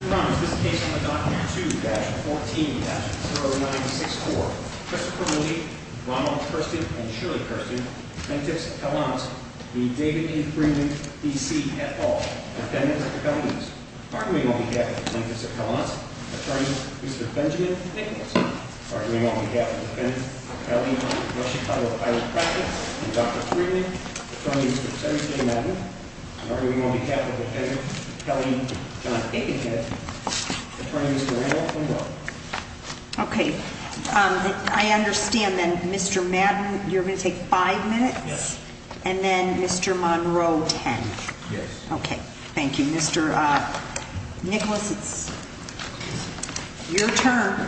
Your Honor, this case is under Doctrine 2-14-0964. Christopher Moody, Ronald Kirsten, and Shirley Kirsten, plaintiffs at Kalamazoo, v. David A. Freeland, D.C., et al., defendants at the felonies. Arguing on behalf of the plaintiffs at Kalamazoo, Attorney Mr. Benjamin Nicholson. Arguing on behalf of the defendants at Kelly, North Chicago, Iowa traffic, and Dr. Freeland, Attorney Mr. Terrence J. Madden. Arguing on behalf of the defendants at Kelly, North Chicago, Iowa traffic, and Dr. Freeland, Attorney Mr. Randolph Monroe. Okay, I understand then, Mr. Madden, you're going to take five minutes? Yes. And then Mr. Monroe, ten. Yes. Okay, thank you. Mr. Nicholas, it's your turn.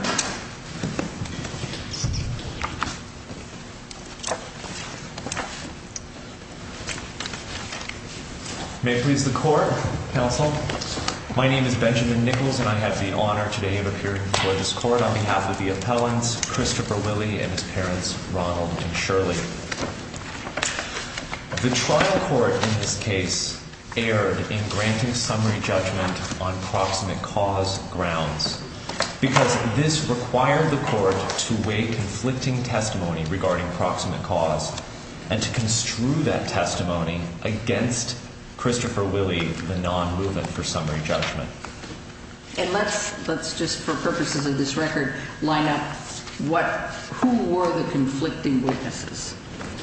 May it please the court, counsel. My name is Benjamin Nichols and I have the honor today of appearing before this court on behalf of the appellants, Christopher Willie and his parents, Ronald and Shirley. The trial court in this case erred in granting summary judgment on proximate cause grounds because this required the court to weigh conflicting testimony regarding proximate cause and to construe that testimony against Christopher Willie, the non-movement for summary judgment. And let's just, for purposes of this record, line up who were the conflicting witnesses.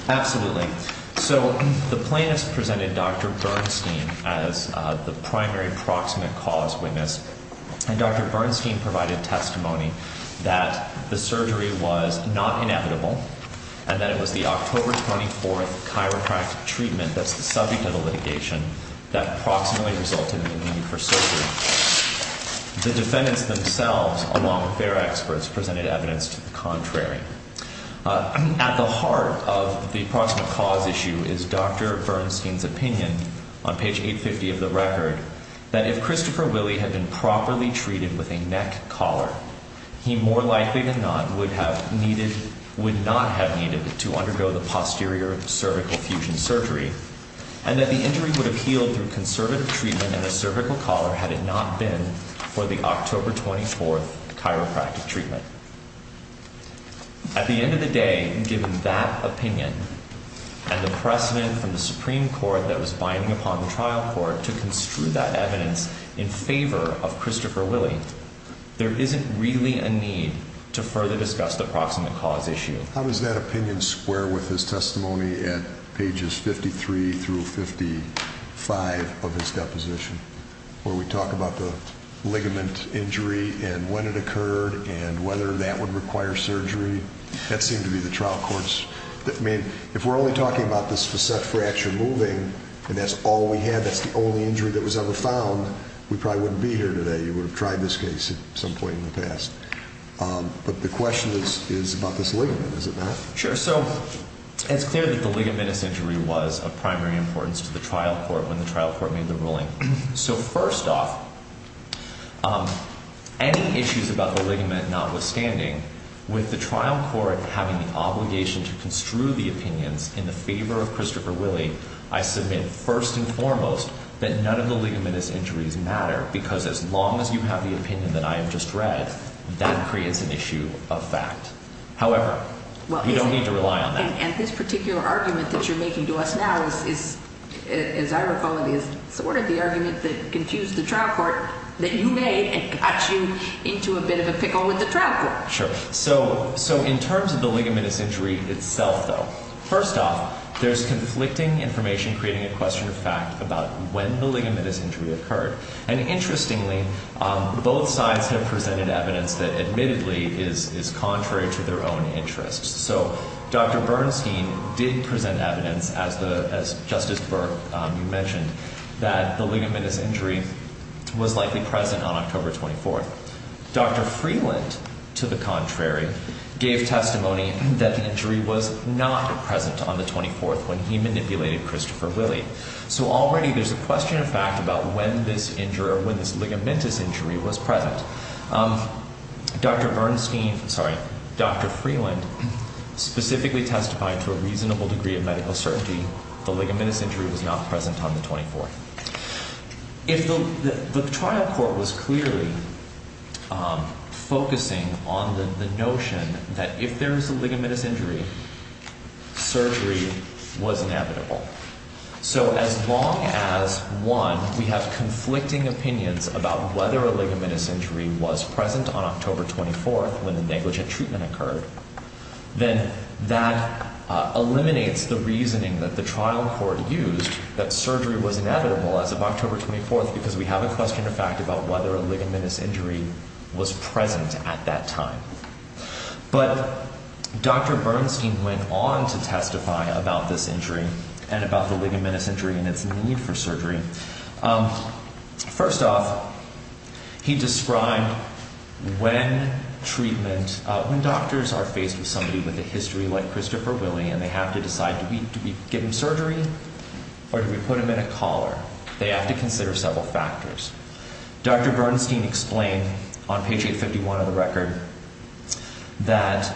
Absolutely. So the plaintiffs presented Dr. Bernstein as the primary proximate cause witness and Dr. Bernstein provided testimony that the surgery was not inevitable and that it was the October 24th chiropractic treatment that's the subject of the litigation that proximately resulted in the need for surgery. The defendants themselves, along with their experts, presented evidence to the contrary. At the heart of the proximate cause issue is Dr. Bernstein's opinion on page 850 of the record that if Christopher Willie had been properly treated with a neck collar, he more likely than not would not have needed to undergo the posterior cervical fusion surgery and that the injury would have healed through conservative treatment in the cervical collar had it not been for the October 24th chiropractic treatment. At the end of the day, given that opinion and the precedent from the Supreme Court that was binding upon the trial court to construe that evidence in favor of Christopher Willie, there isn't really a need to further discuss the proximate cause issue. How does that opinion square with his testimony at pages 53 through 55 of his deposition where we talk about the ligament injury and when it occurred and whether that would require surgery? That seemed to be the trial courts. I mean, if we're only talking about this facet fracture moving and that's all we have, that's the only injury that was ever found, we probably wouldn't be here today. You would have tried this case at some point in the past. But the question is about this ligament, is it not? Sure. So it's clear that the ligamentous injury was of primary importance to the trial court when the trial court made the ruling. So first off, any issues about the ligament notwithstanding, with the trial court having the obligation to construe the opinions in favor of Christopher Willie, I submit first and foremost that none of the ligamentous injuries matter because as long as you have the opinion that I have just read, that creates an issue of fact. However, we don't need to rely on that. And this particular argument that you're making to us now, as I recall it, is sort of the argument that confused the trial court that you made and got you into a bit of a pickle with the trial court. Sure. So in terms of the ligamentous injury itself, though, first off, there's conflicting information creating a question of fact about when the ligamentous injury occurred. And interestingly, both sides have presented evidence that admittedly is contrary to their own interests. So Dr. Bernstein did present evidence, as Justice Burke mentioned, that the ligamentous injury was likely present on October 24th. Dr. Freeland, to the contrary, gave testimony that the injury was not present on the 24th when he manipulated Christopher Willie. So already there's a question of fact about when this injury or when this ligamentous injury was present. Dr. Bernstein, sorry, Dr. Freeland specifically testified to a reasonable degree of medical certainty the ligamentous injury was not present on the 24th. The trial court was clearly focusing on the notion that if there is a ligamentous injury, surgery was inevitable. So as long as, one, we have conflicting opinions about whether a ligamentous injury was present on October 24th when the negligent treatment occurred, then that eliminates the reasoning that the trial court used that surgery was inevitable as of October 24th because we have a question of fact about whether a ligamentous injury was present at that time. But Dr. Bernstein went on to testify about this injury and about the ligamentous injury and its need for surgery. First off, he described when treatment, when doctors are faced with somebody with a history like Christopher Willie and they have to decide, do we give him surgery or do we put him in a collar? They have to consider several factors. Dr. Bernstein explained on page 851 of the record that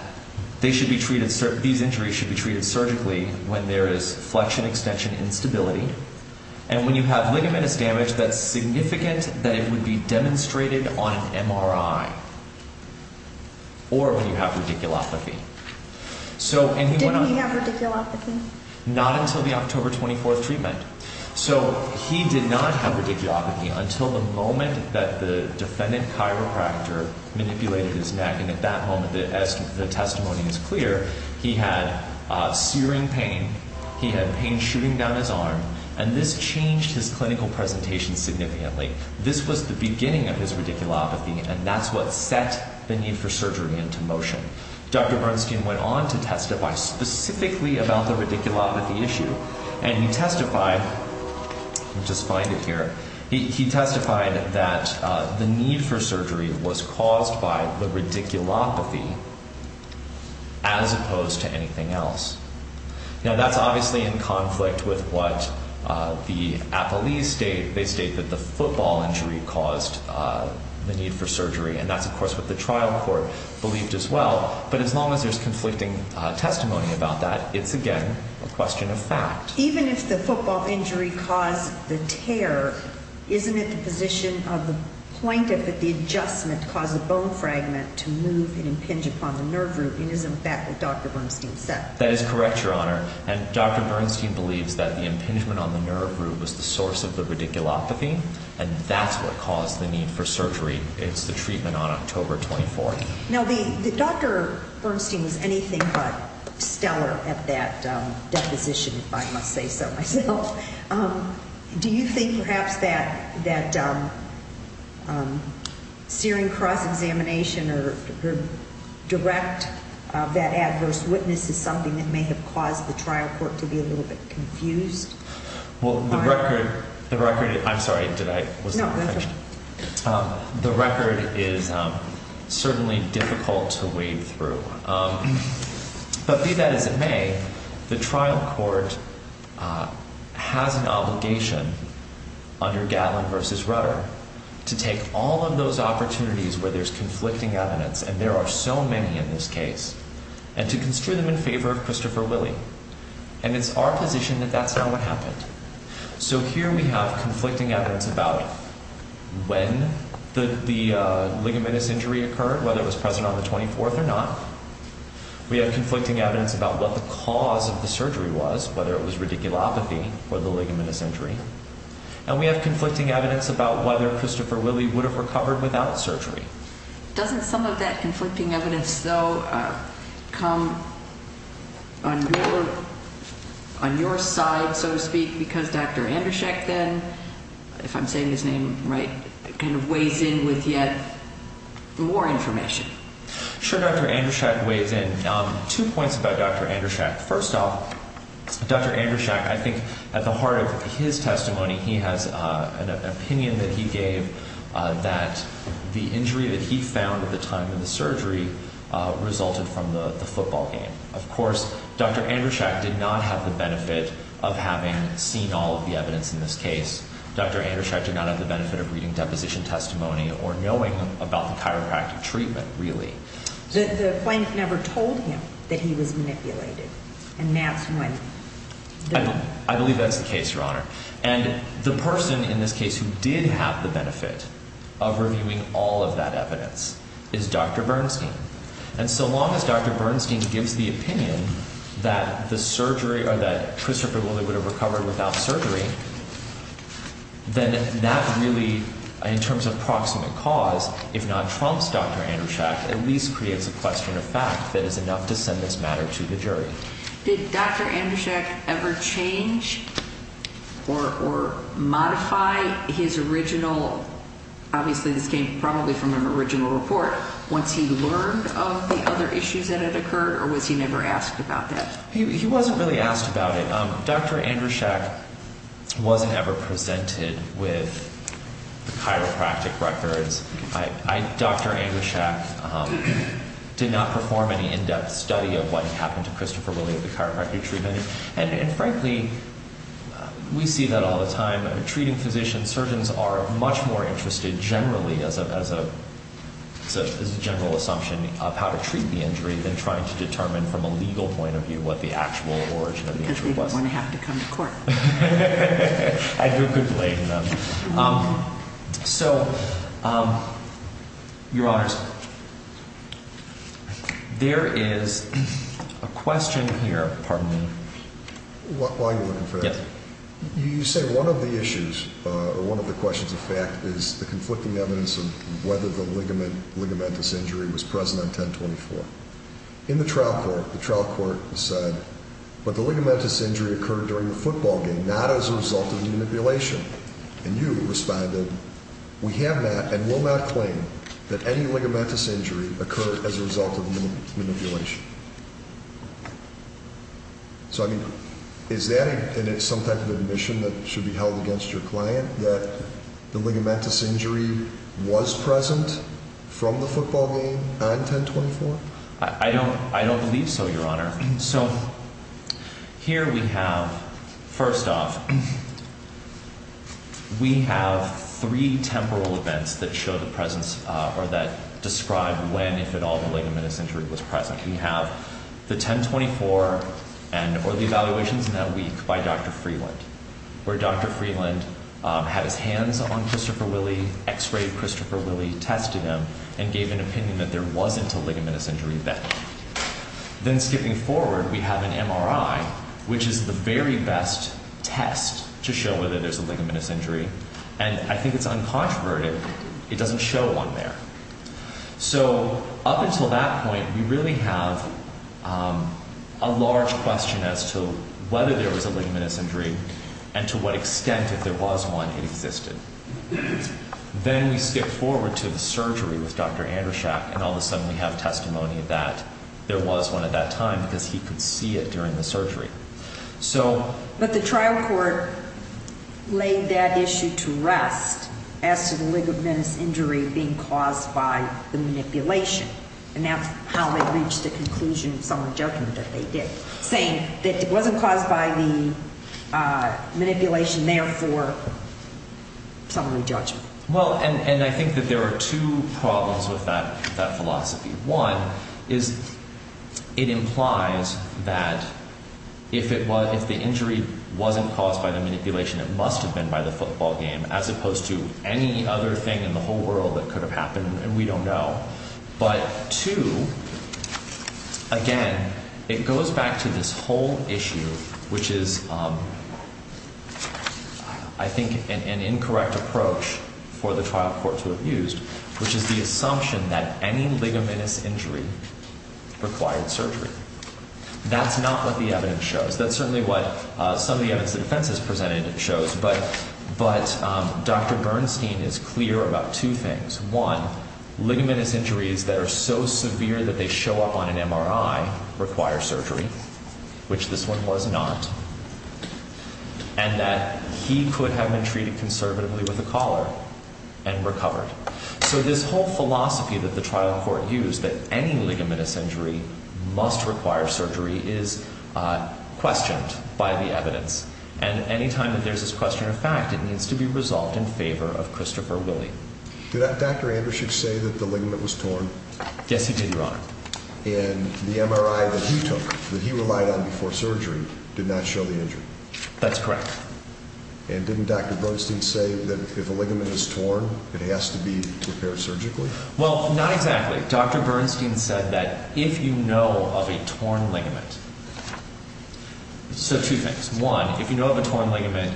these injuries should be treated surgically when there is flexion extension instability and when you have ligamentous damage that's significant that it would be demonstrated on an MRI or when you have radiculopathy. Did he have radiculopathy? Not until the October 24th treatment. So he did not have radiculopathy until the moment that the defendant chiropractor manipulated his neck and at that moment, as the testimony is clear, he had searing pain. He had pain shooting down his arm and this changed his clinical presentation significantly. This was the beginning of his radiculopathy and that's what set the need for surgery into motion. Dr. Bernstein went on to testify specifically about the radiculopathy issue and he testified, let me just find it here, he testified that the need for surgery was caused by the radiculopathy as opposed to anything else. Now that's obviously in conflict with what the appellees state. They state that the football injury caused the need for surgery and that's of course what the trial court believed as well but as long as there's conflicting testimony about that, it's again a question of fact. Even if the football injury caused the tear, isn't it the position of the plaintiff that the adjustment caused the bone fragment to move and impinge upon the nerve root and isn't that what Dr. Bernstein said? That is correct, Your Honor, and Dr. Bernstein believes that the impingement on the nerve root was the source of the radiculopathy and that's what caused the need for surgery. It's the treatment on October 24th. Now Dr. Bernstein was anything but stellar at that deposition, if I must say so myself. Do you think perhaps that searing cross-examination or direct, that adverse witness is something that may have caused the trial court to be a little bit confused? The record is certainly difficult to wade through. But be that as it may, the trial court has an obligation under Gatlin v. Rutter to take all of those opportunities where there's conflicting evidence and there are so many in this case and to construe them in favor of Christopher Willey and it's our position that that's not what happened. So here we have conflicting evidence about when the ligamentous injury occurred, whether it was present on the 24th or not. We have conflicting evidence about what the cause of the surgery was, whether it was radiculopathy or the ligamentous injury. And we have conflicting evidence about whether Christopher Willey would have recovered without surgery. Doesn't some of that conflicting evidence, though, come on your side, so to speak, because Dr. Andrushak then, if I'm saying his name right, kind of weighs in with yet more information? Sure, Dr. Andrushak weighs in. Two points about Dr. Andrushak. First off, Dr. Andrushak, I think at the heart of his testimony, he has an opinion that he gave that the injury that he found at the time of the surgery resulted from the football game. Of course, Dr. Andrushak did not have the benefit of having seen all of the evidence in this case. Dr. Andrushak did not have the benefit of reading deposition testimony or knowing about the chiropractic treatment, really. The plaintiff never told him that he was manipulated, and that's when the— I believe that's the case, Your Honor. And the person in this case who did have the benefit of reviewing all of that evidence is Dr. Bernstein. And so long as Dr. Bernstein gives the opinion that the surgery— or that Christopher Willey would have recovered without surgery, then that really, in terms of proximate cause, if not trumps Dr. Andrushak, at least creates a question of fact that is enough to send this matter to the jury. Did Dr. Andrushak ever change or modify his original— obviously this came probably from an original report— once he learned of the other issues that had occurred, or was he never asked about that? He wasn't really asked about it. Dr. Andrushak wasn't ever presented with the chiropractic records. Dr. Andrushak did not perform any in-depth study of what happened to Christopher Willey at the chiropractic treatment. And frankly, we see that all the time. I mean, treating physicians, surgeons are much more interested generally, as a general assumption, of how to treat the injury than trying to determine from a legal point of view what the actual origin of the injury was. Because they didn't want to have to come to court. I drew a good blade in them. So, Your Honors, there is a question here. Pardon me. While you're looking for that. You say one of the issues, or one of the questions of fact, is the conflicting evidence of whether the ligamentous injury was present on 1024. In the trial court, the trial court said, But the ligamentous injury occurred during the football game, not as a result of manipulation. And you responded, So, I mean, is that some type of admission that should be held against your client, that the ligamentous injury was present from the football game on 1024? I don't believe so, Your Honor. So, here we have, first off, we have three temporal events that show the presence, or that describe when, if at all, the ligamentous injury was present. We have the 1024, or the evaluations in that week, by Dr. Freeland. Where Dr. Freeland had his hands on Christopher Willey, x-rayed Christopher Willey, tested him, and gave an opinion that there wasn't a ligamentous injury then. Then, skipping forward, we have an MRI, which is the very best test to show whether there's a ligamentous injury. And I think it's uncontroverted. It doesn't show one there. So, up until that point, we really have a large question as to whether there was a ligamentous injury, and to what extent, if there was one, it existed. Then we skip forward to the surgery with Dr. Andrushak, and all of a sudden we have testimony that there was one at that time, because he could see it during the surgery. But the trial court laid that issue to rest as to the ligamentous injury being caused by the manipulation. And that's how they reached the conclusion in summary judgment that they did, saying that it wasn't caused by the manipulation, therefore, summary judgment. Well, and I think that there are two problems with that philosophy. One is it implies that if the injury wasn't caused by the manipulation, it must have been by the football game, as opposed to any other thing in the whole world that could have happened, and we don't know. But two, again, it goes back to this whole issue, which is, I think, an incorrect approach for the trial court to have used, which is the assumption that any ligamentous injury required surgery. That's not what the evidence shows. That's certainly what some of the evidence the defense has presented shows, but Dr. Bernstein is clear about two things. One, ligamentous injuries that are so severe that they show up on an MRI require surgery, which this one was not, and that he could have been treated conservatively with a collar and recovered. So this whole philosophy that the trial court used, that any ligamentous injury must require surgery, is questioned by the evidence. And any time that there's this question of fact, it needs to be resolved in favor of Christopher Willey. Did Dr. Anderson say that the ligament was torn? Yes, he did, Your Honor. And the MRI that he took, that he relied on before surgery, did not show the injury? That's correct. And didn't Dr. Bernstein say that if a ligament is torn, it has to be repaired surgically? Well, not exactly. Dr. Bernstein said that if you know of a torn ligament, so two things. One, if you know of a torn ligament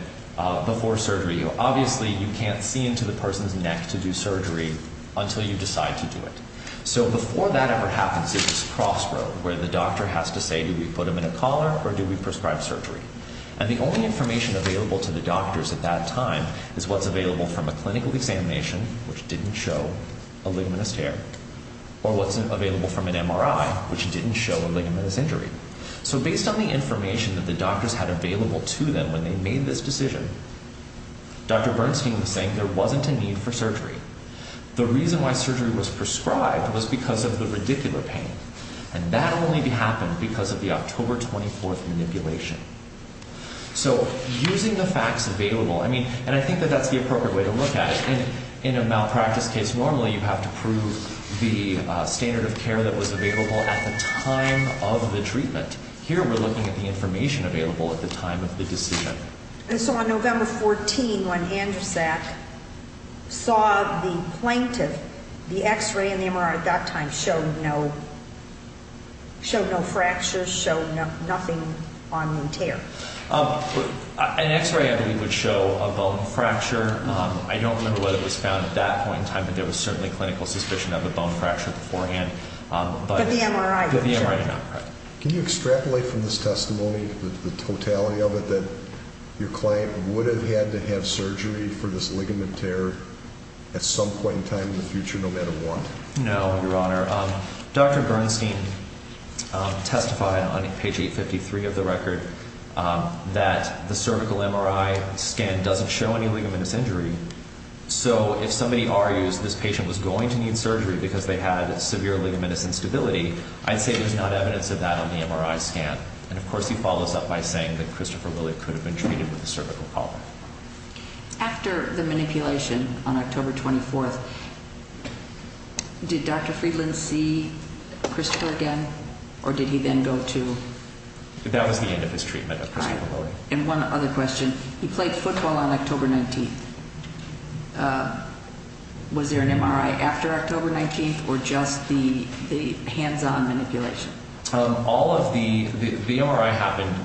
before surgery, obviously you can't see into the person's neck to do surgery until you decide to do it. So before that ever happens, there's this crossroad where the doctor has to say, do we put him in a collar or do we prescribe surgery? And the only information available to the doctors at that time is what's available from a clinical examination, which didn't show a ligamentous tear, or what's available from an MRI, which didn't show a ligamentous injury. So based on the information that the doctors had available to them when they made this decision, the reason why surgery was prescribed was because of the radicular pain, and that only happened because of the October 24th manipulation. So using the facts available, and I think that that's the appropriate way to look at it. In a malpractice case, normally you have to prove the standard of care that was available at the time of the treatment. Here we're looking at the information available at the time of the decision. And so on November 14, when Andrzak saw the plaintiff, the X-ray and the MRI at that time showed no fractures, showed nothing on the tear. An X-ray, I believe, would show a bone fracture. I don't remember whether it was found at that point in time, but there was certainly clinical suspicion of a bone fracture beforehand. But the MRI did not. Can you extrapolate from this testimony the totality of it, that your client would have had to have surgery for this ligament tear at some point in time in the future no matter what? No, Your Honor. Dr. Bernstein testified on page 853 of the record that the cervical MRI scan doesn't show any ligamentous injury. So if somebody argues this patient was going to need surgery because they had severe ligamentous instability, I'd say there's not evidence of that on the MRI scan. And, of course, he follows up by saying that Christopher Lilly could have been treated with a cervical problem. After the manipulation on October 24, did Dr. Friedland see Christopher again, or did he then go to? That was the end of his treatment of Christopher Lilly. All right. And one other question. He played football on October 19. Was there an MRI after October 19, or just the hands-on manipulation? All of the MRI happened.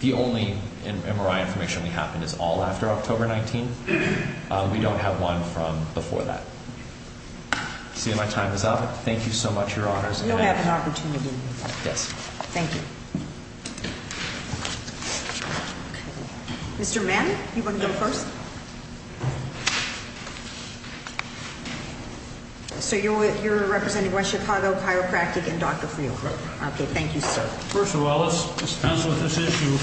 The only MRI information we have is all after October 19. We don't have one from before that. See, my time is up. Thank you so much, Your Honors. You'll have an opportunity. Yes. Thank you. Mr. Mann, you want to go first? Yes. So you're representing West Chicago Chiropractic and Dr. Friedland? Correct. Okay. Thank you, sir. First of all, let's dispense with this issue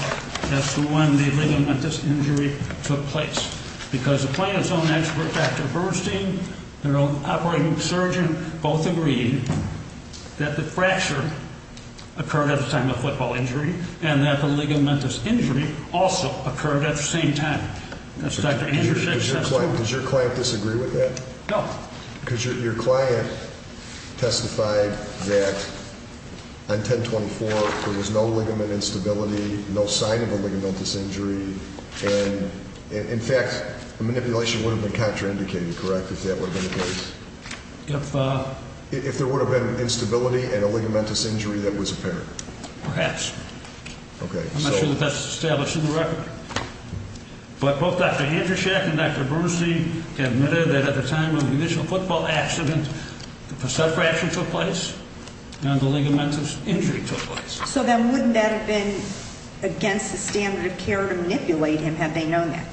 as to when the ligamentous injury took place because the plant's own expert, Dr. Bernstein, their own operating surgeon, both agreed that the fracture occurred at the time of football injury and that the ligamentous injury also occurred at the same time. Does your client disagree with that? No. Because your client testified that on 10-24 there was no ligament instability, no sign of a ligamentous injury, and, in fact, the manipulation would have been contraindicated, correct, if that would have been the case? If? If there would have been instability and a ligamentous injury that was apparent. Perhaps. Okay. I'm not sure that that's established in the record. But both Dr. Andruschak and Dr. Bernstein admitted that at the time of the initial football accident, the subfraction took place and the ligamentous injury took place. So then wouldn't that have been against the standard of care to manipulate him, had they known that?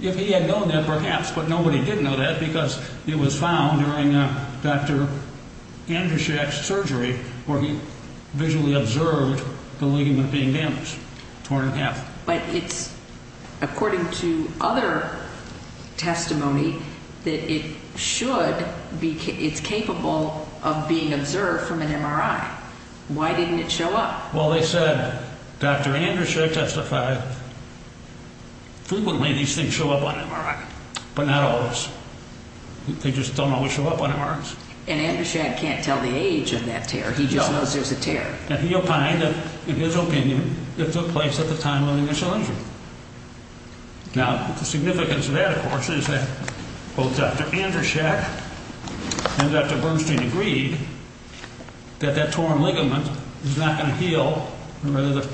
If he had known that, perhaps, but nobody did know that because it was found during Dr. Andruschak's surgery where he visually observed the ligament being damaged, torn in half. But it's according to other testimony that it's capable of being observed from an MRI. Why didn't it show up? Well, they said Dr. Andruschak testified frequently these things show up on MRI, but not always. They just don't always show up on MRIs. And Andruschak can't tell the age of that tear. He just knows there's a tear. And he opined that, in his opinion, it took place at the time of the initial injury. Now, the significance of that, of course, is that both Dr. Andruschak and Dr. Bernstein agreed that that torn ligament is not going to heal. The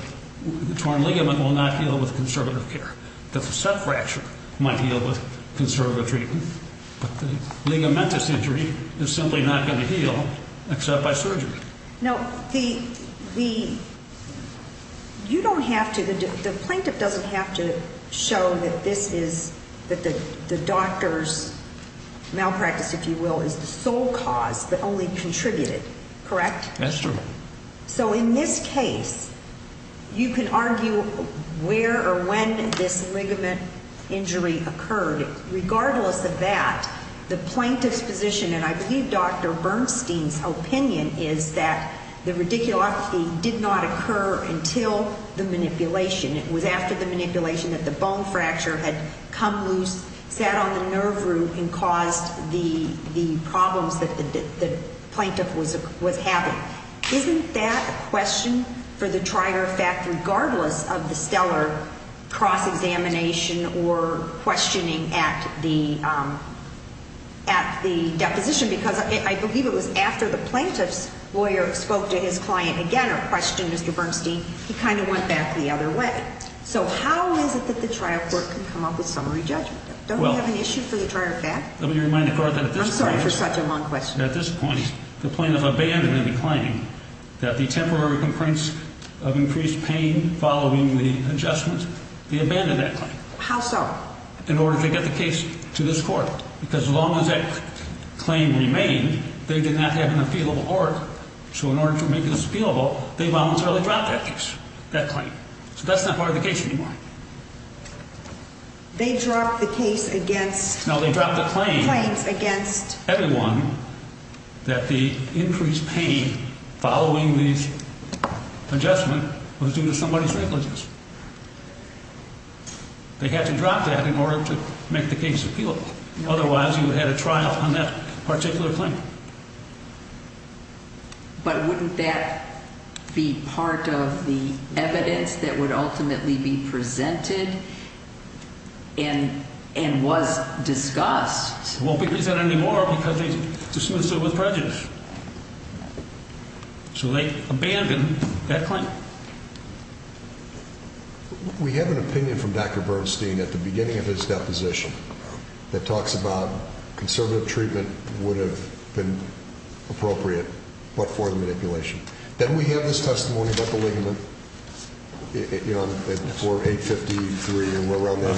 torn ligament will not heal with conservative care. The subfracture might heal with conservative treatment. But the ligamentous injury is simply not going to heal except by surgery. Now, the plaintiff doesn't have to show that the doctor's malpractice, if you will, is the sole cause but only contributed, correct? That's true. So in this case, you can argue where or when this ligament injury occurred. Regardless of that, the plaintiff's position, and I believe Dr. Bernstein's opinion is that the radiculopathy did not occur until the manipulation. It was after the manipulation that the bone fracture had come loose, sat on the nerve root and caused the problems that the plaintiff was having. Isn't that a question for the trier of fact regardless of the stellar cross-examination or questioning at the deposition? Because I believe it was after the plaintiff's lawyer spoke to his client again or questioned Mr. Bernstein, he kind of went back the other way. So how is it that the trial court can come up with summary judgment? Don't we have an issue for the trier of fact? Let me remind the court that at this point. I'm sorry for such a long question. At this point, the plaintiff abandoned the claim that the temporary complaints of increased pain following the adjustment, they abandoned that claim. How so? In order to get the case to this court. Because as long as that claim remained, they did not have an appealable order. So in order to make this appealable, they voluntarily dropped that case, that claim. So that's not part of the case anymore. They dropped the case against... No, they dropped the claim... Claims against... They had to drop that in order to make the case appealable. Otherwise, you would have had a trial on that particular claim. But wouldn't that be part of the evidence that would ultimately be presented and was discussed? It won't be presented anymore because they dismissed it with prejudice. So they abandoned that claim. We have an opinion from Dr. Bernstein at the beginning of his deposition that talks about conservative treatment would have been appropriate but for the manipulation. Then we have this testimony about the ligament, you know, at 853, and we're around that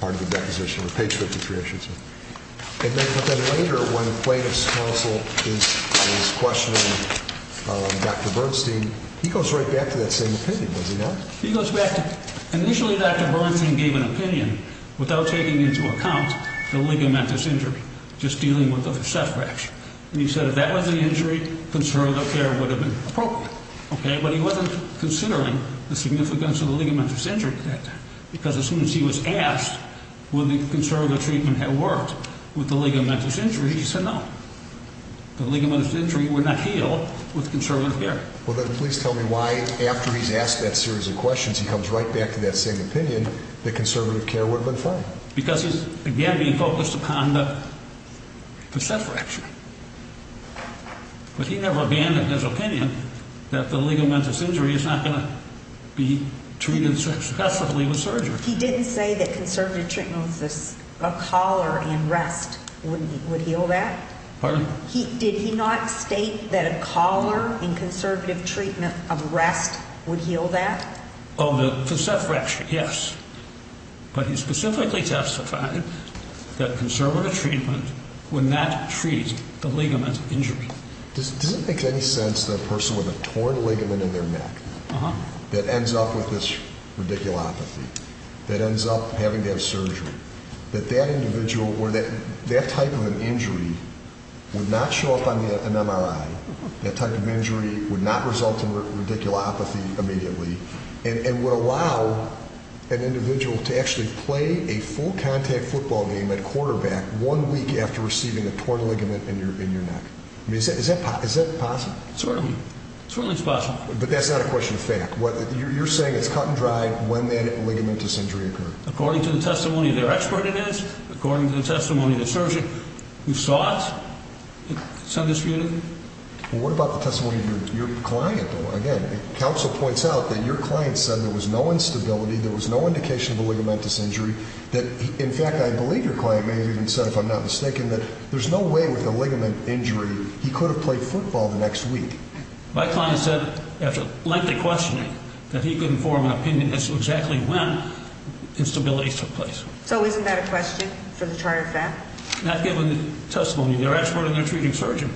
part of the deposition. Page 53, I should say. But then later when plaintiff's counsel is questioning Dr. Bernstein, he goes right back to that same opinion, does he not? He goes back to... Initially, Dr. Bernstein gave an opinion without taking into account the ligamentous injury, just dealing with the subfraction. He said if that was an injury, conservative care would have been appropriate. But he wasn't considering the significance of the ligamentous injury at that time because as soon as he was asked whether conservative treatment had worked with the ligamentous injury, he said no. The ligamentous injury would not heal with conservative care. Well, then please tell me why, after he's asked that series of questions, he comes right back to that same opinion that conservative care would have been fine. Because he's, again, being focused upon the subfraction. But he never abandoned his opinion that the ligamentous injury is not going to be treated successively with surgery. He didn't say that conservative treatment of a collar and rest would heal that? Pardon? Did he not state that a collar and conservative treatment of rest would heal that? Oh, the subfraction, yes. But he specifically testified that conservative treatment would not treat the ligament injury. Does it make any sense that a person with a torn ligament in their neck that ends up with this radiculopathy, that ends up having to have surgery, that that individual or that type of an injury would not show up on an MRI, that type of injury would not result in radiculopathy immediately, and would allow an individual to actually play a full contact football game at quarterback one week after receiving a torn ligament in your neck? I mean, is that possible? Certainly. Certainly it's possible. But that's not a question of fact. You're saying it's cut and dried when that ligamentous injury occurred? According to the testimony of their expert, it is. Well, what about the testimony of your client, though? Again, counsel points out that your client said there was no instability, there was no indication of a ligamentous injury, that, in fact, I believe your client may have even said, if I'm not mistaken, that there's no way with a ligament injury he could have played football the next week. My client said, after lengthy questioning, that he couldn't form an opinion as to exactly when instability took place. So isn't that a question for the charge of fact? Not given the testimony of their expert and their treating surgeon.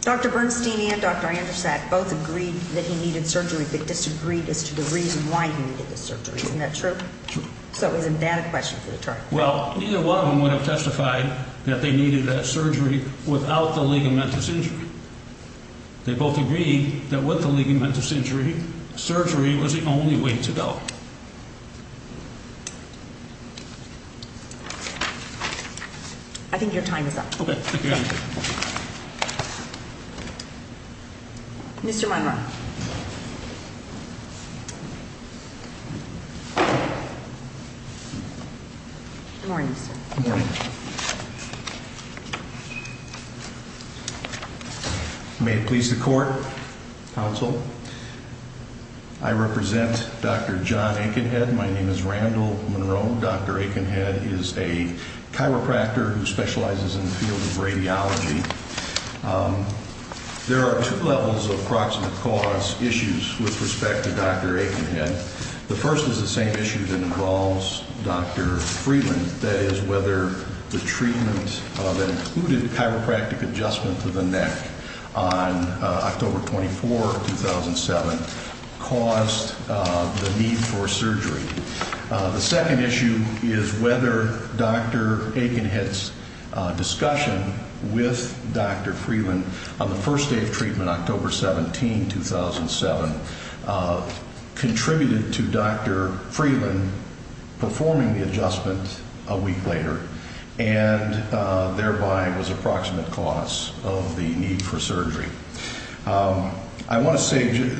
Dr. Bernstein and Dr. Andersack both agreed that he needed surgery but disagreed as to the reason why he needed the surgery. Isn't that true? True. So isn't that a question for the charge? Well, neither one of them would have testified that they needed that surgery without the ligamentous injury. They both agreed that with the ligamentous injury, surgery was the only way to go. I think your time is up. Okay. Mr. Munroe. Good morning, sir. Good morning. May it please the court, counsel, I represent Dr. John Aikenhead. My name is Randall Munroe. Dr. Aikenhead is a chiropractor who specializes in the field of radiology. There are two levels of proximate cause issues with respect to Dr. Aikenhead. The first is the same issue that involves Dr. Friedland, that is, whether the treatment that included chiropractic adjustment to the neck on October 24, 2007, caused the need for surgery. The second issue is whether Dr. Aikenhead's discussion with Dr. Friedland on the first day of treatment, October 17, 2007, contributed to Dr. Friedland performing the adjustment a week later, and thereby was approximate cause of the need for surgery. I want to say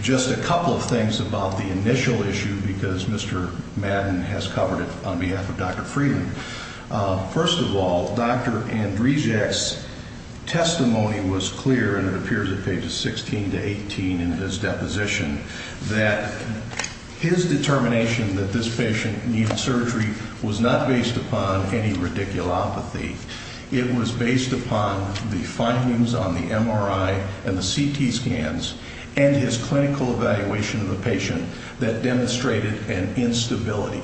just a couple of things about the initial issue, because Mr. Madden has covered it on behalf of Dr. Friedland. First of all, Dr. Andreejak's testimony was clear, and it appears at pages 16 to 18 in his deposition, that his determination that this patient needed surgery was not based upon any radiculopathy. It was based upon the findings on the MRI and the CT scans and his clinical evaluation of the patient that demonstrated an instability.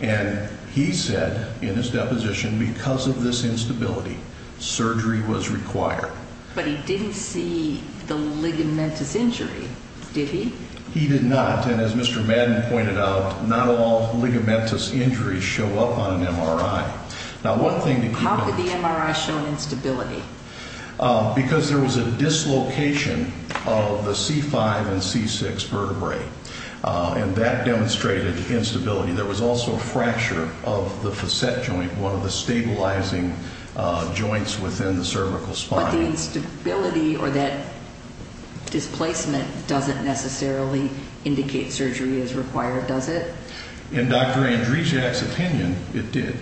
And he said in his deposition, because of this instability, surgery was required. But he didn't see the ligamentous injury, did he? He did not, and as Mr. Madden pointed out, not all ligamentous injuries show up on an MRI. How could the MRI show an instability? Because there was a dislocation of the C5 and C6 vertebrae, and that demonstrated instability. There was also a fracture of the facet joint, one of the stabilizing joints within the cervical spine. But the instability or that displacement doesn't necessarily indicate surgery is required, does it? In Dr. Andreejak's opinion, it did.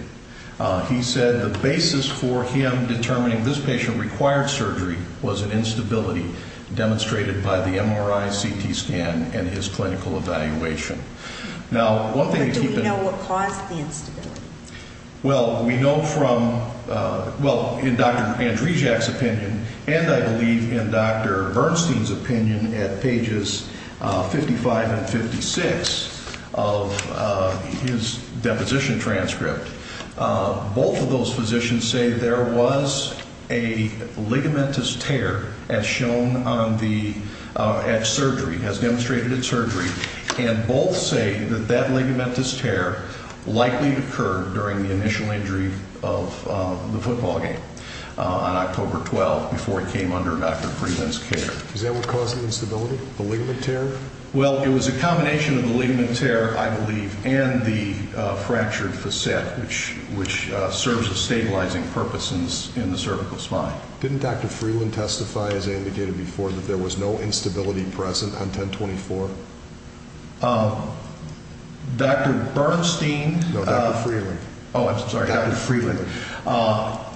He said the basis for him determining this patient required surgery was an instability demonstrated by the MRI, CT scan, and his clinical evaluation. Now, one thing to keep in mind. But do we know what caused the instability? Well, we know from, well, in Dr. Andreejak's opinion, and I believe in Dr. Bernstein's opinion at pages 55 and 56 of his deposition transcript, both of those physicians say there was a ligamentous tear as shown on the, at surgery, as demonstrated at surgery. And both say that that ligamentous tear likely occurred during the initial injury of the football game on October 12 before it came under Dr. Freeland's care. Is that what caused the instability, the ligament tear? Well, it was a combination of the ligament tear, I believe, and the fractured facet, which serves a stabilizing purpose in the cervical spine. Didn't Dr. Freeland testify, as I indicated before, that there was no instability present on 1024? Dr. Bernstein. No, Dr. Freeland. Oh, I'm sorry. Dr. Freeland.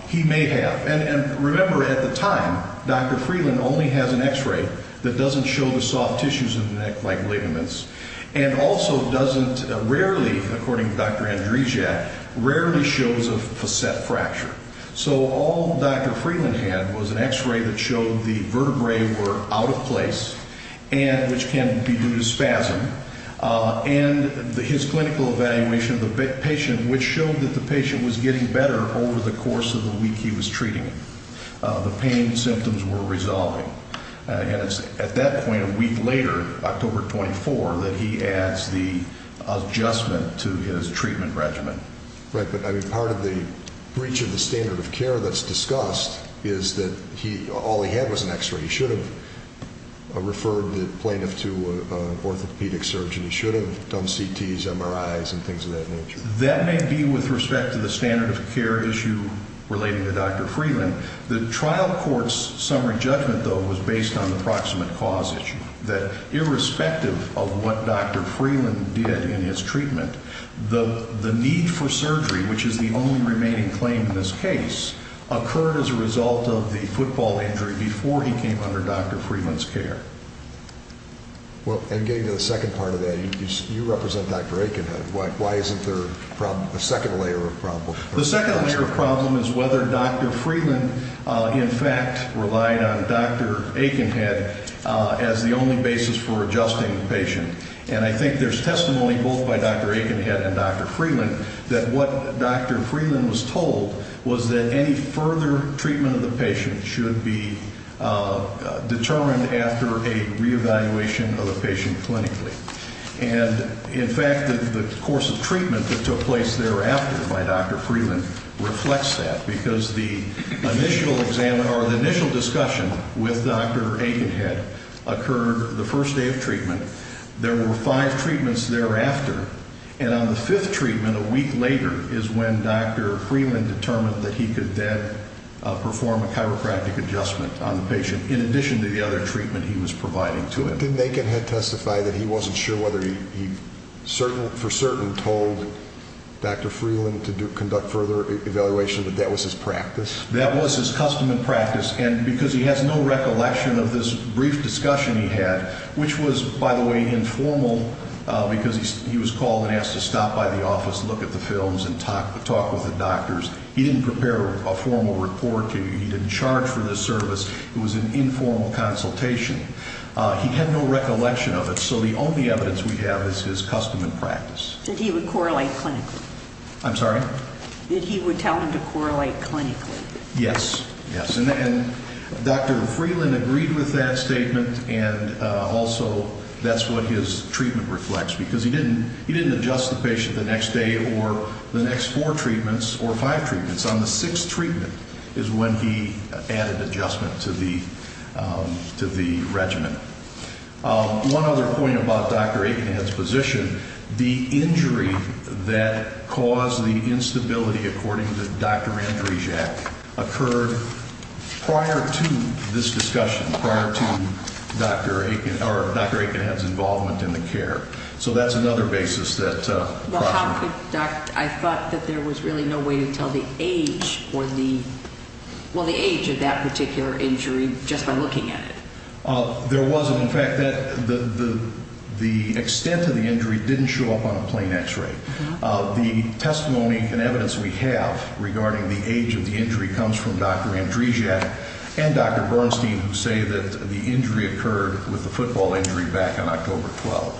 He may have. And remember, at the time, Dr. Freeland only has an X-ray that doesn't show the soft tissues of the neck like ligaments, and also doesn't rarely, according to Dr. Andreejak, rarely shows a facet fracture. So all Dr. Freeland had was an X-ray that showed the vertebrae were out of place, which can be due to spasm, and his clinical evaluation of the patient, which showed that the patient was getting better over the course of the week he was treating him. The pain symptoms were resolving. And it's at that point, a week later, October 24, that he adds the adjustment to his treatment regimen. Right, but part of the breach of the standard of care that's discussed is that all he had was an X-ray. He should have referred the plaintiff to an orthopedic surgeon. He should have done CTs, MRIs, and things of that nature. That may be with respect to the standard of care issue relating to Dr. Freeland. The trial court's summary judgment, though, was based on the proximate cause issue, that irrespective of what Dr. Freeland did in his treatment, the need for surgery, which is the only remaining claim in this case, occurred as a result of the football injury before he came under Dr. Freeland's care. Well, and getting to the second part of that, you represent Dr. Aikenhead. Why isn't there a second layer of problem? The second layer of problem is whether Dr. Freeland, in fact, relied on Dr. Aikenhead as the only basis for adjusting the patient. And I think there's testimony, both by Dr. Aikenhead and Dr. Freeland, that what Dr. Freeland was told was that any further treatment of the patient should be determined after a reevaluation of the patient clinically. And, in fact, the course of treatment that took place thereafter by Dr. Freeland reflects that, because the initial discussion with Dr. Aikenhead occurred the first day of treatment. There were five treatments thereafter, and on the fifth treatment, a week later, is when Dr. Freeland determined that he could then perform a chiropractic adjustment on the patient, in addition to the other treatment he was providing to him. But didn't Aikenhead testify that he wasn't sure whether he for certain told Dr. Freeland to conduct further evaluation, that that was his practice? That was his custom and practice, and because he has no recollection of this brief discussion he had, which was, by the way, informal, because he was called and asked to stop by the office, look at the films, and talk with the doctors. He didn't prepare a formal report. He didn't charge for this service. It was an informal consultation. He had no recollection of it, so the only evidence we have is his custom and practice. That he would correlate clinically. I'm sorry? That he would tell him to correlate clinically. Yes, yes. And Dr. Freeland agreed with that statement, and also that's what his treatment reflects, because he didn't adjust the patient the next day or the next four treatments or five treatments. On the sixth treatment is when he added adjustment to the regimen. One other point about Dr. Aikenhead's position, the injury that caused the instability, according to Dr. Andrijac, occurred prior to this discussion, prior to Dr. Aikenhead's involvement in the care. So that's another basis that crossed my mind. I thought that there was really no way to tell the age or the, well, the age of that particular injury just by looking at it. There wasn't. In fact, the extent of the injury didn't show up on a plain x-ray. The testimony and evidence we have regarding the age of the injury comes from Dr. Andrijac and Dr. Bernstein, who say that the injury occurred with a football injury back on October 12th.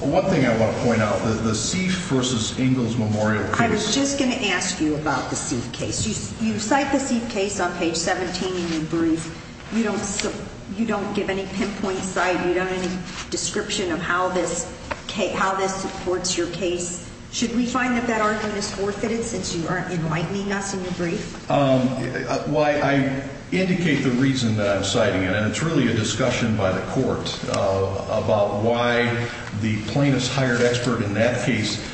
One thing I want to point out, the Seif versus Ingalls Memorial case. I was just going to ask you about the Seif case. You cite the Seif case on page 17 in your brief. You don't give any pinpoint site. You don't have any description of how this supports your case. Should we find that that argument is forfeited since you aren't enlightening us in your brief? I indicate the reason that I'm citing it, and it's really a discussion by the court about why the plaintiff's hired expert in that case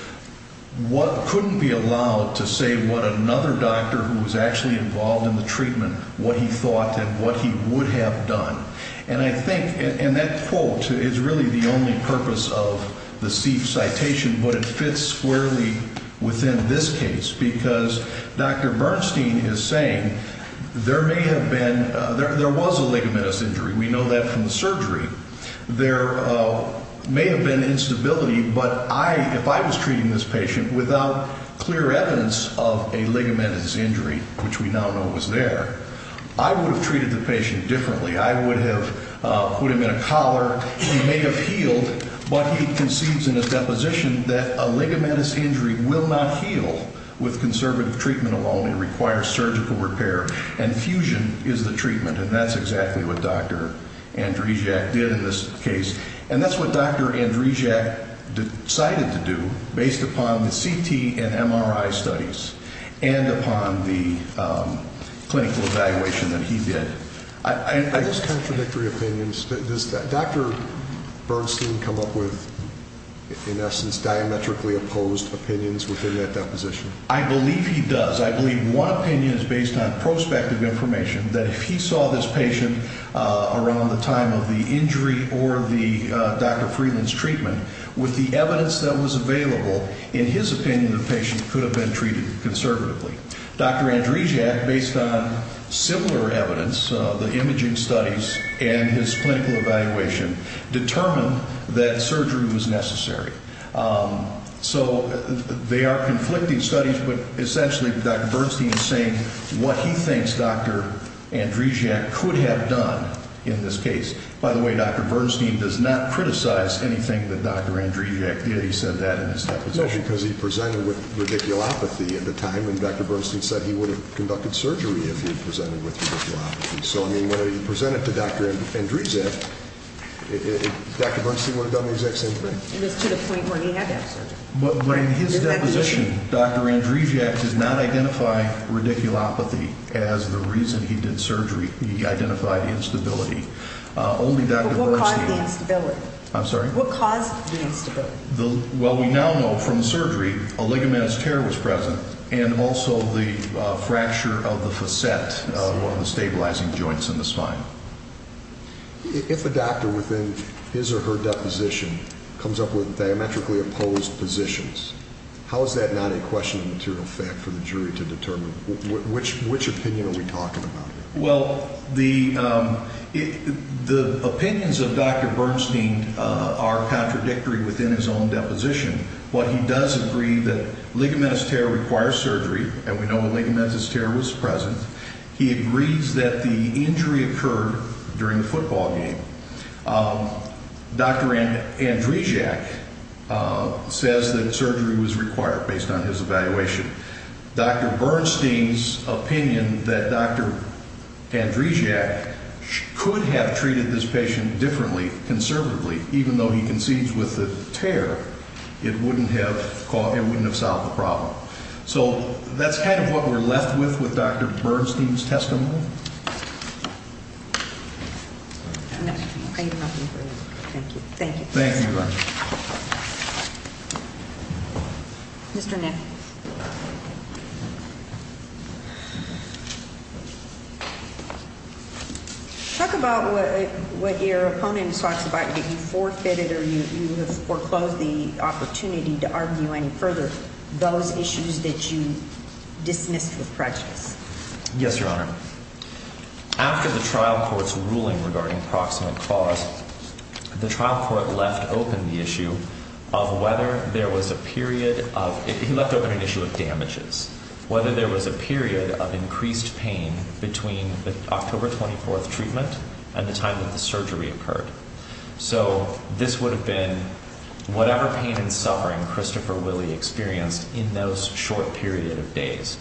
couldn't be allowed to say what another doctor who was actually involved in the treatment, what he thought and what he would have done. And I think, and that quote is really the only purpose of the Seif citation, but it fits squarely within this case because Dr. Bernstein is saying there may have been, there was a ligamentous injury. We know that from the surgery. There may have been instability, but I, if I was treating this patient without clear evidence of a ligamentous injury, which we now know was there, I would have treated the patient differently. I would have put him in a collar. He may have healed, but he concedes in his deposition that a ligamentous injury will not heal with conservative treatment alone. It requires surgical repair, and fusion is the treatment, and that's exactly what Dr. Andreejak did in this case. And that's what Dr. Andreejak decided to do based upon the CT and MRI studies and upon the clinical evaluation that he did. Are those contradictory opinions? Does Dr. Bernstein come up with, in essence, diametrically opposed opinions within that deposition? I believe he does. I believe one opinion is based on prospective information that if he saw this patient around the time of the injury or the Dr. Friedland's treatment with the evidence that was available, in his opinion, the patient could have been treated conservatively. Dr. Andreejak, based on similar evidence, the imaging studies and his clinical evaluation, determined that surgery was necessary. So they are conflicting studies, but essentially Dr. Bernstein is saying what he thinks Dr. Andreejak could have done in this case. By the way, Dr. Bernstein does not criticize anything that Dr. Andreejak did. He said that in his deposition. No, because he presented with radiculopathy at the time, and Dr. Bernstein said he would have conducted surgery if he presented with radiculopathy. So, I mean, when he presented to Dr. Andreejak, Dr. Bernstein would have done the exact same thing. It was to the point where he had that surgery. But in his deposition, Dr. Andreejak does not identify radiculopathy as the reason he did surgery. He identified instability. But what caused the instability? I'm sorry? What caused the instability? Well, we now know from the surgery a ligamentous tear was present and also the fracture of the facet, one of the stabilizing joints in the spine. If a doctor within his or her deposition comes up with diametrically opposed positions, how is that not a question of material fact for the jury to determine? Which opinion are we talking about here? Well, the opinions of Dr. Bernstein are contradictory within his own deposition. What he does agree that ligamentous tear requires surgery, and we know a ligamentous tear was present. He agrees that the injury occurred during the football game. Dr. Andreejak says that surgery was required based on his evaluation. Dr. Bernstein's opinion that Dr. Andreejak could have treated this patient differently, conservatively, even though he concedes with the tear, it wouldn't have solved the problem. So that's kind of what we're left with with Dr. Bernstein's testimony. Thank you. Thank you. Thank you. Mr. Nick. Talk about what your opponent talks about that you forfeited or you have foreclosed the opportunity to argue any further, those issues that you dismissed with prejudice. Yes, Your Honor. After the trial court's ruling regarding proximate cause, the trial court left open the issue of whether there was a period of – it left open an issue of damages, whether there was a period of increased pain between the October 24th treatment and the time that the surgery occurred. So this would have been whatever pain and suffering Christopher Willie experienced in those short period of days.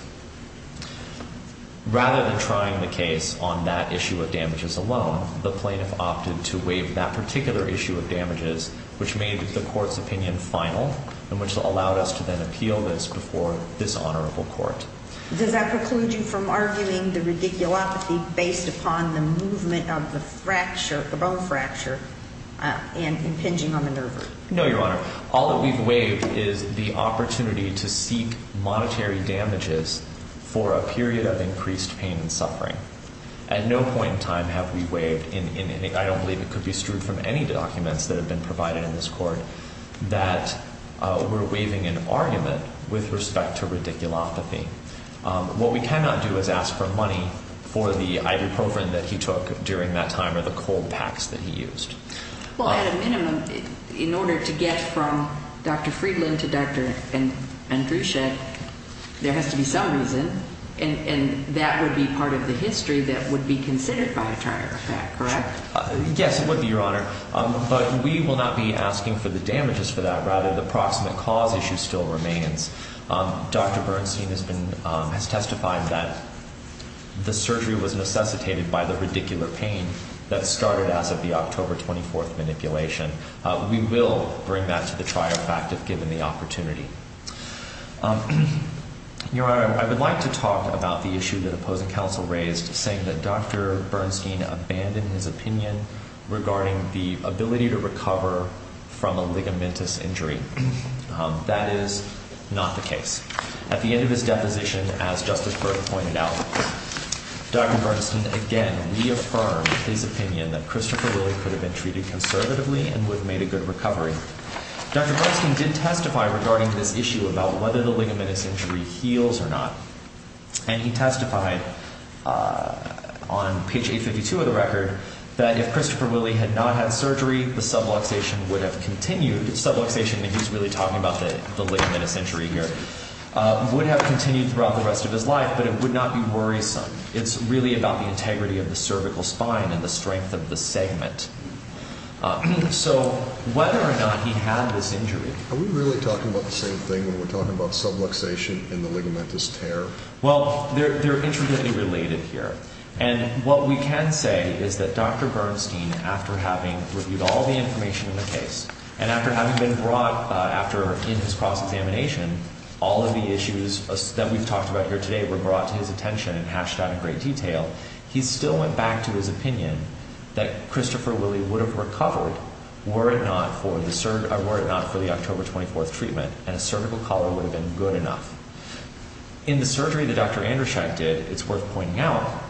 Rather than trying the case on that issue of damages alone, the plaintiff opted to waive that particular issue of damages, which made the court's opinion final and which allowed us to then appeal this before this honorable court. Does that preclude you from arguing the radiculopathy based upon the movement of the fracture, the bone fracture, and impinging on the nerve root? No, Your Honor. All that we've waived is the opportunity to seek monetary damages for a period of increased pain and suffering. At no point in time have we waived in any – I don't believe it could be strewed from any documents that have been provided in this court that we're waiving an argument with respect to radiculopathy. What we cannot do is ask for money for the ibuprofen that he took during that time or the cold packs that he used. Well, at a minimum, in order to get from Dr. Friedland to Dr. Andruschek, there has to be some reason, and that would be part of the history that would be considered by a trial effect, correct? Yes, it would be, Your Honor. But we will not be asking for the damages for that. Rather, the proximate cause issue still remains. Dr. Bernstein has testified that the surgery was necessitated by the radicular pain that started as of the October 24th manipulation. We will bring that to the trial effect if given the opportunity. Your Honor, I would like to talk about the issue that opposing counsel raised, saying that Dr. Bernstein abandoned his opinion regarding the ability to recover from a ligamentous injury. That is not the case. At the end of his deposition, as Justice Berg pointed out, Dr. Bernstein again reaffirmed his opinion that Christopher Willie could have been treated conservatively and would have made a good recovery. Dr. Bernstein did testify regarding this issue about whether the ligamentous injury heals or not. And he testified on page 852 of the record that if Christopher Willie had not had surgery, the subluxation would have continued. Subluxation, and he's really talking about the ligamentous injury here, would have continued throughout the rest of his life, but it would not be worrisome. It's really about the integrity of the cervical spine and the strength of the segment. So whether or not he had this injury… Are we really talking about the same thing when we're talking about subluxation and the ligamentous tear? Well, they're intricately related here. And what we can say is that Dr. Bernstein, after having reviewed all the information in the case, and after having been brought after in his cross-examination, all of the issues that we've talked about here today were brought to his attention and hashed out in great detail, he still went back to his opinion that Christopher Willie would have recovered were it not for the October 24th treatment and a cervical collar would have been good enough. In the surgery that Dr. Andersheim did, it's worth pointing out,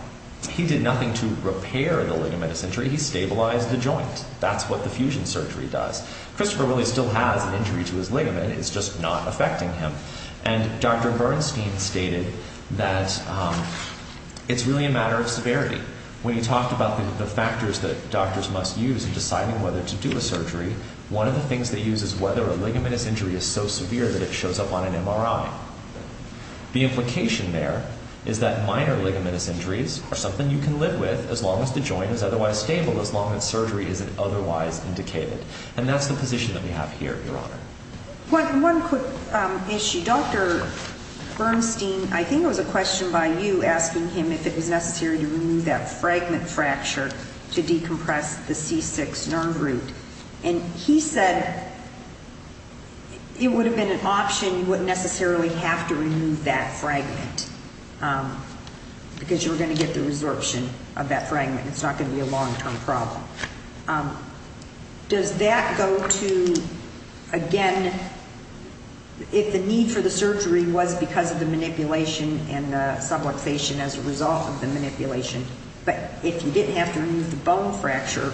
he did nothing to repair the ligamentous injury. He stabilized the joint. That's what the fusion surgery does. Christopher Willie still has an injury to his ligament. It's just not affecting him. And Dr. Bernstein stated that it's really a matter of severity. When he talked about the factors that doctors must use in deciding whether to do a surgery, one of the things they use is whether a ligamentous injury is so severe that it shows up on an MRI. The implication there is that minor ligamentous injuries are something you can live with as long as the joint is otherwise stable, as long as surgery isn't otherwise indicated. And that's the position that we have here, Your Honor. One quick issue. Dr. Bernstein, I think it was a question by you asking him if it was necessary to remove that fragment fracture to decompress the C6 nerve root. And he said it would have been an option. You wouldn't necessarily have to remove that fragment because you were going to get the resorption of that fragment. It's not going to be a long-term problem. Does that go to, again, if the need for the surgery was because of the manipulation and the subluxation as a result of the manipulation, but if you didn't have to remove the bone fracture,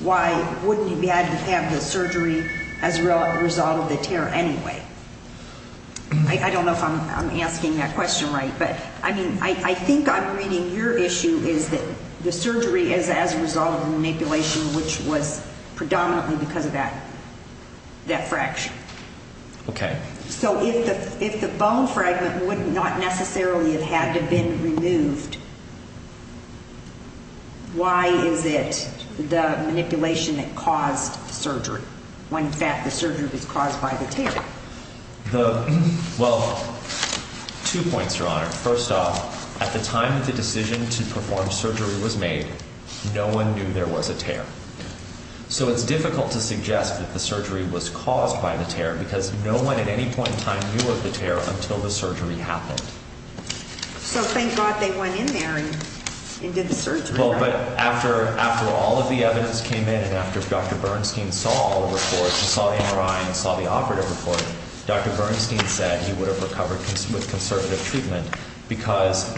why wouldn't you have to have the surgery as a result of the tear anyway? I don't know if I'm asking that question right. But, I mean, I think I'm reading your issue is that the surgery is as a result of manipulation, which was predominantly because of that fracture. Okay. So if the bone fragment would not necessarily have had to have been removed, why is it the manipulation that caused the surgery when, in fact, the surgery was caused by the tear? Well, two points, Your Honor. First off, at the time that the decision to perform surgery was made, no one knew there was a tear. So it's difficult to suggest that the surgery was caused by the tear because no one at any point in time knew of the tear until the surgery happened. So thank God they went in there and did the surgery, right? Well, but after all of the evidence came in and after Dr. Bernstein saw all the reports and saw the MRI and saw the operative report, Dr. Bernstein said he would have recovered with conservative treatment because,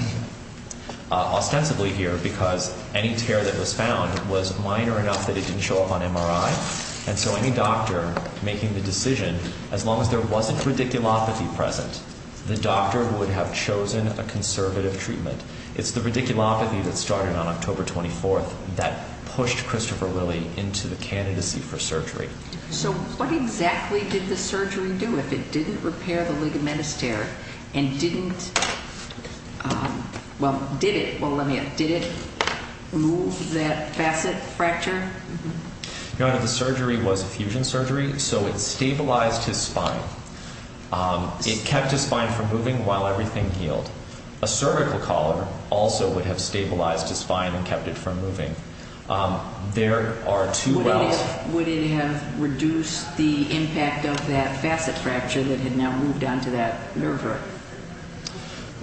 ostensibly here, because any tear that was found was minor enough that it didn't show up on MRI. And so any doctor making the decision, as long as there wasn't radiculopathy present, the doctor would have chosen a conservative treatment. It's the radiculopathy that started on October 24th that pushed Christopher Lilly into the candidacy for surgery. So what exactly did the surgery do if it didn't repair the ligamentous tear and didn't, well, did it, well let me ask, did it move that facet fracture? Your Honor, the surgery was a fusion surgery, so it stabilized his spine. It kept his spine from moving while everything healed. A cervical collar also would have stabilized his spine and kept it from moving. There are two wells. Would it have reduced the impact of that facet fracture that had now moved onto that nerve root?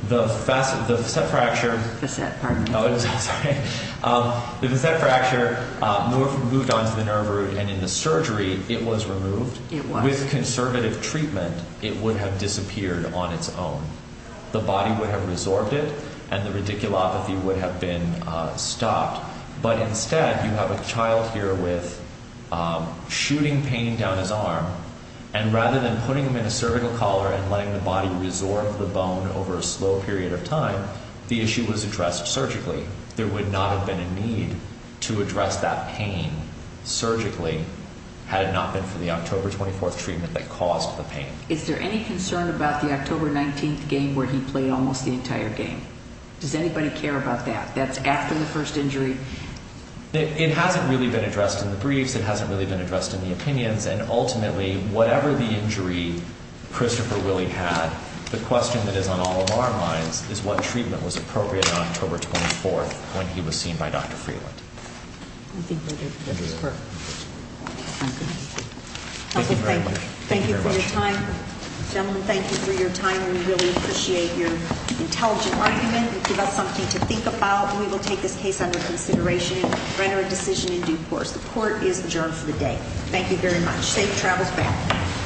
The facet fracture moved onto the nerve root and in the surgery it was removed. It was. With conservative treatment it would have disappeared on its own. The body would have resorbed it and the radiculopathy would have been stopped. But instead you have a child here with shooting pain down his arm. And rather than putting him in a cervical collar and letting the body resorb the bone over a slow period of time, the issue was addressed surgically. There would not have been a need to address that pain surgically had it not been for the October 24th treatment that caused the pain. Is there any concern about the October 19th game where he played almost the entire game? Does anybody care about that? That's after the first injury? It hasn't really been addressed in the briefs. It hasn't really been addressed in the opinions. And ultimately whatever the injury Christopher Willie had, the question that is on all of our minds is what treatment was appropriate on October 24th when he was seen by Dr. Freeland. Thank you very much. Thank you for your time. Gentlemen, thank you for your time. We really appreciate your intelligent argument. You give us something to think about and we will take this case under consideration and render a decision in due course. The court is adjourned for the day. Thank you very much. Safe travels back.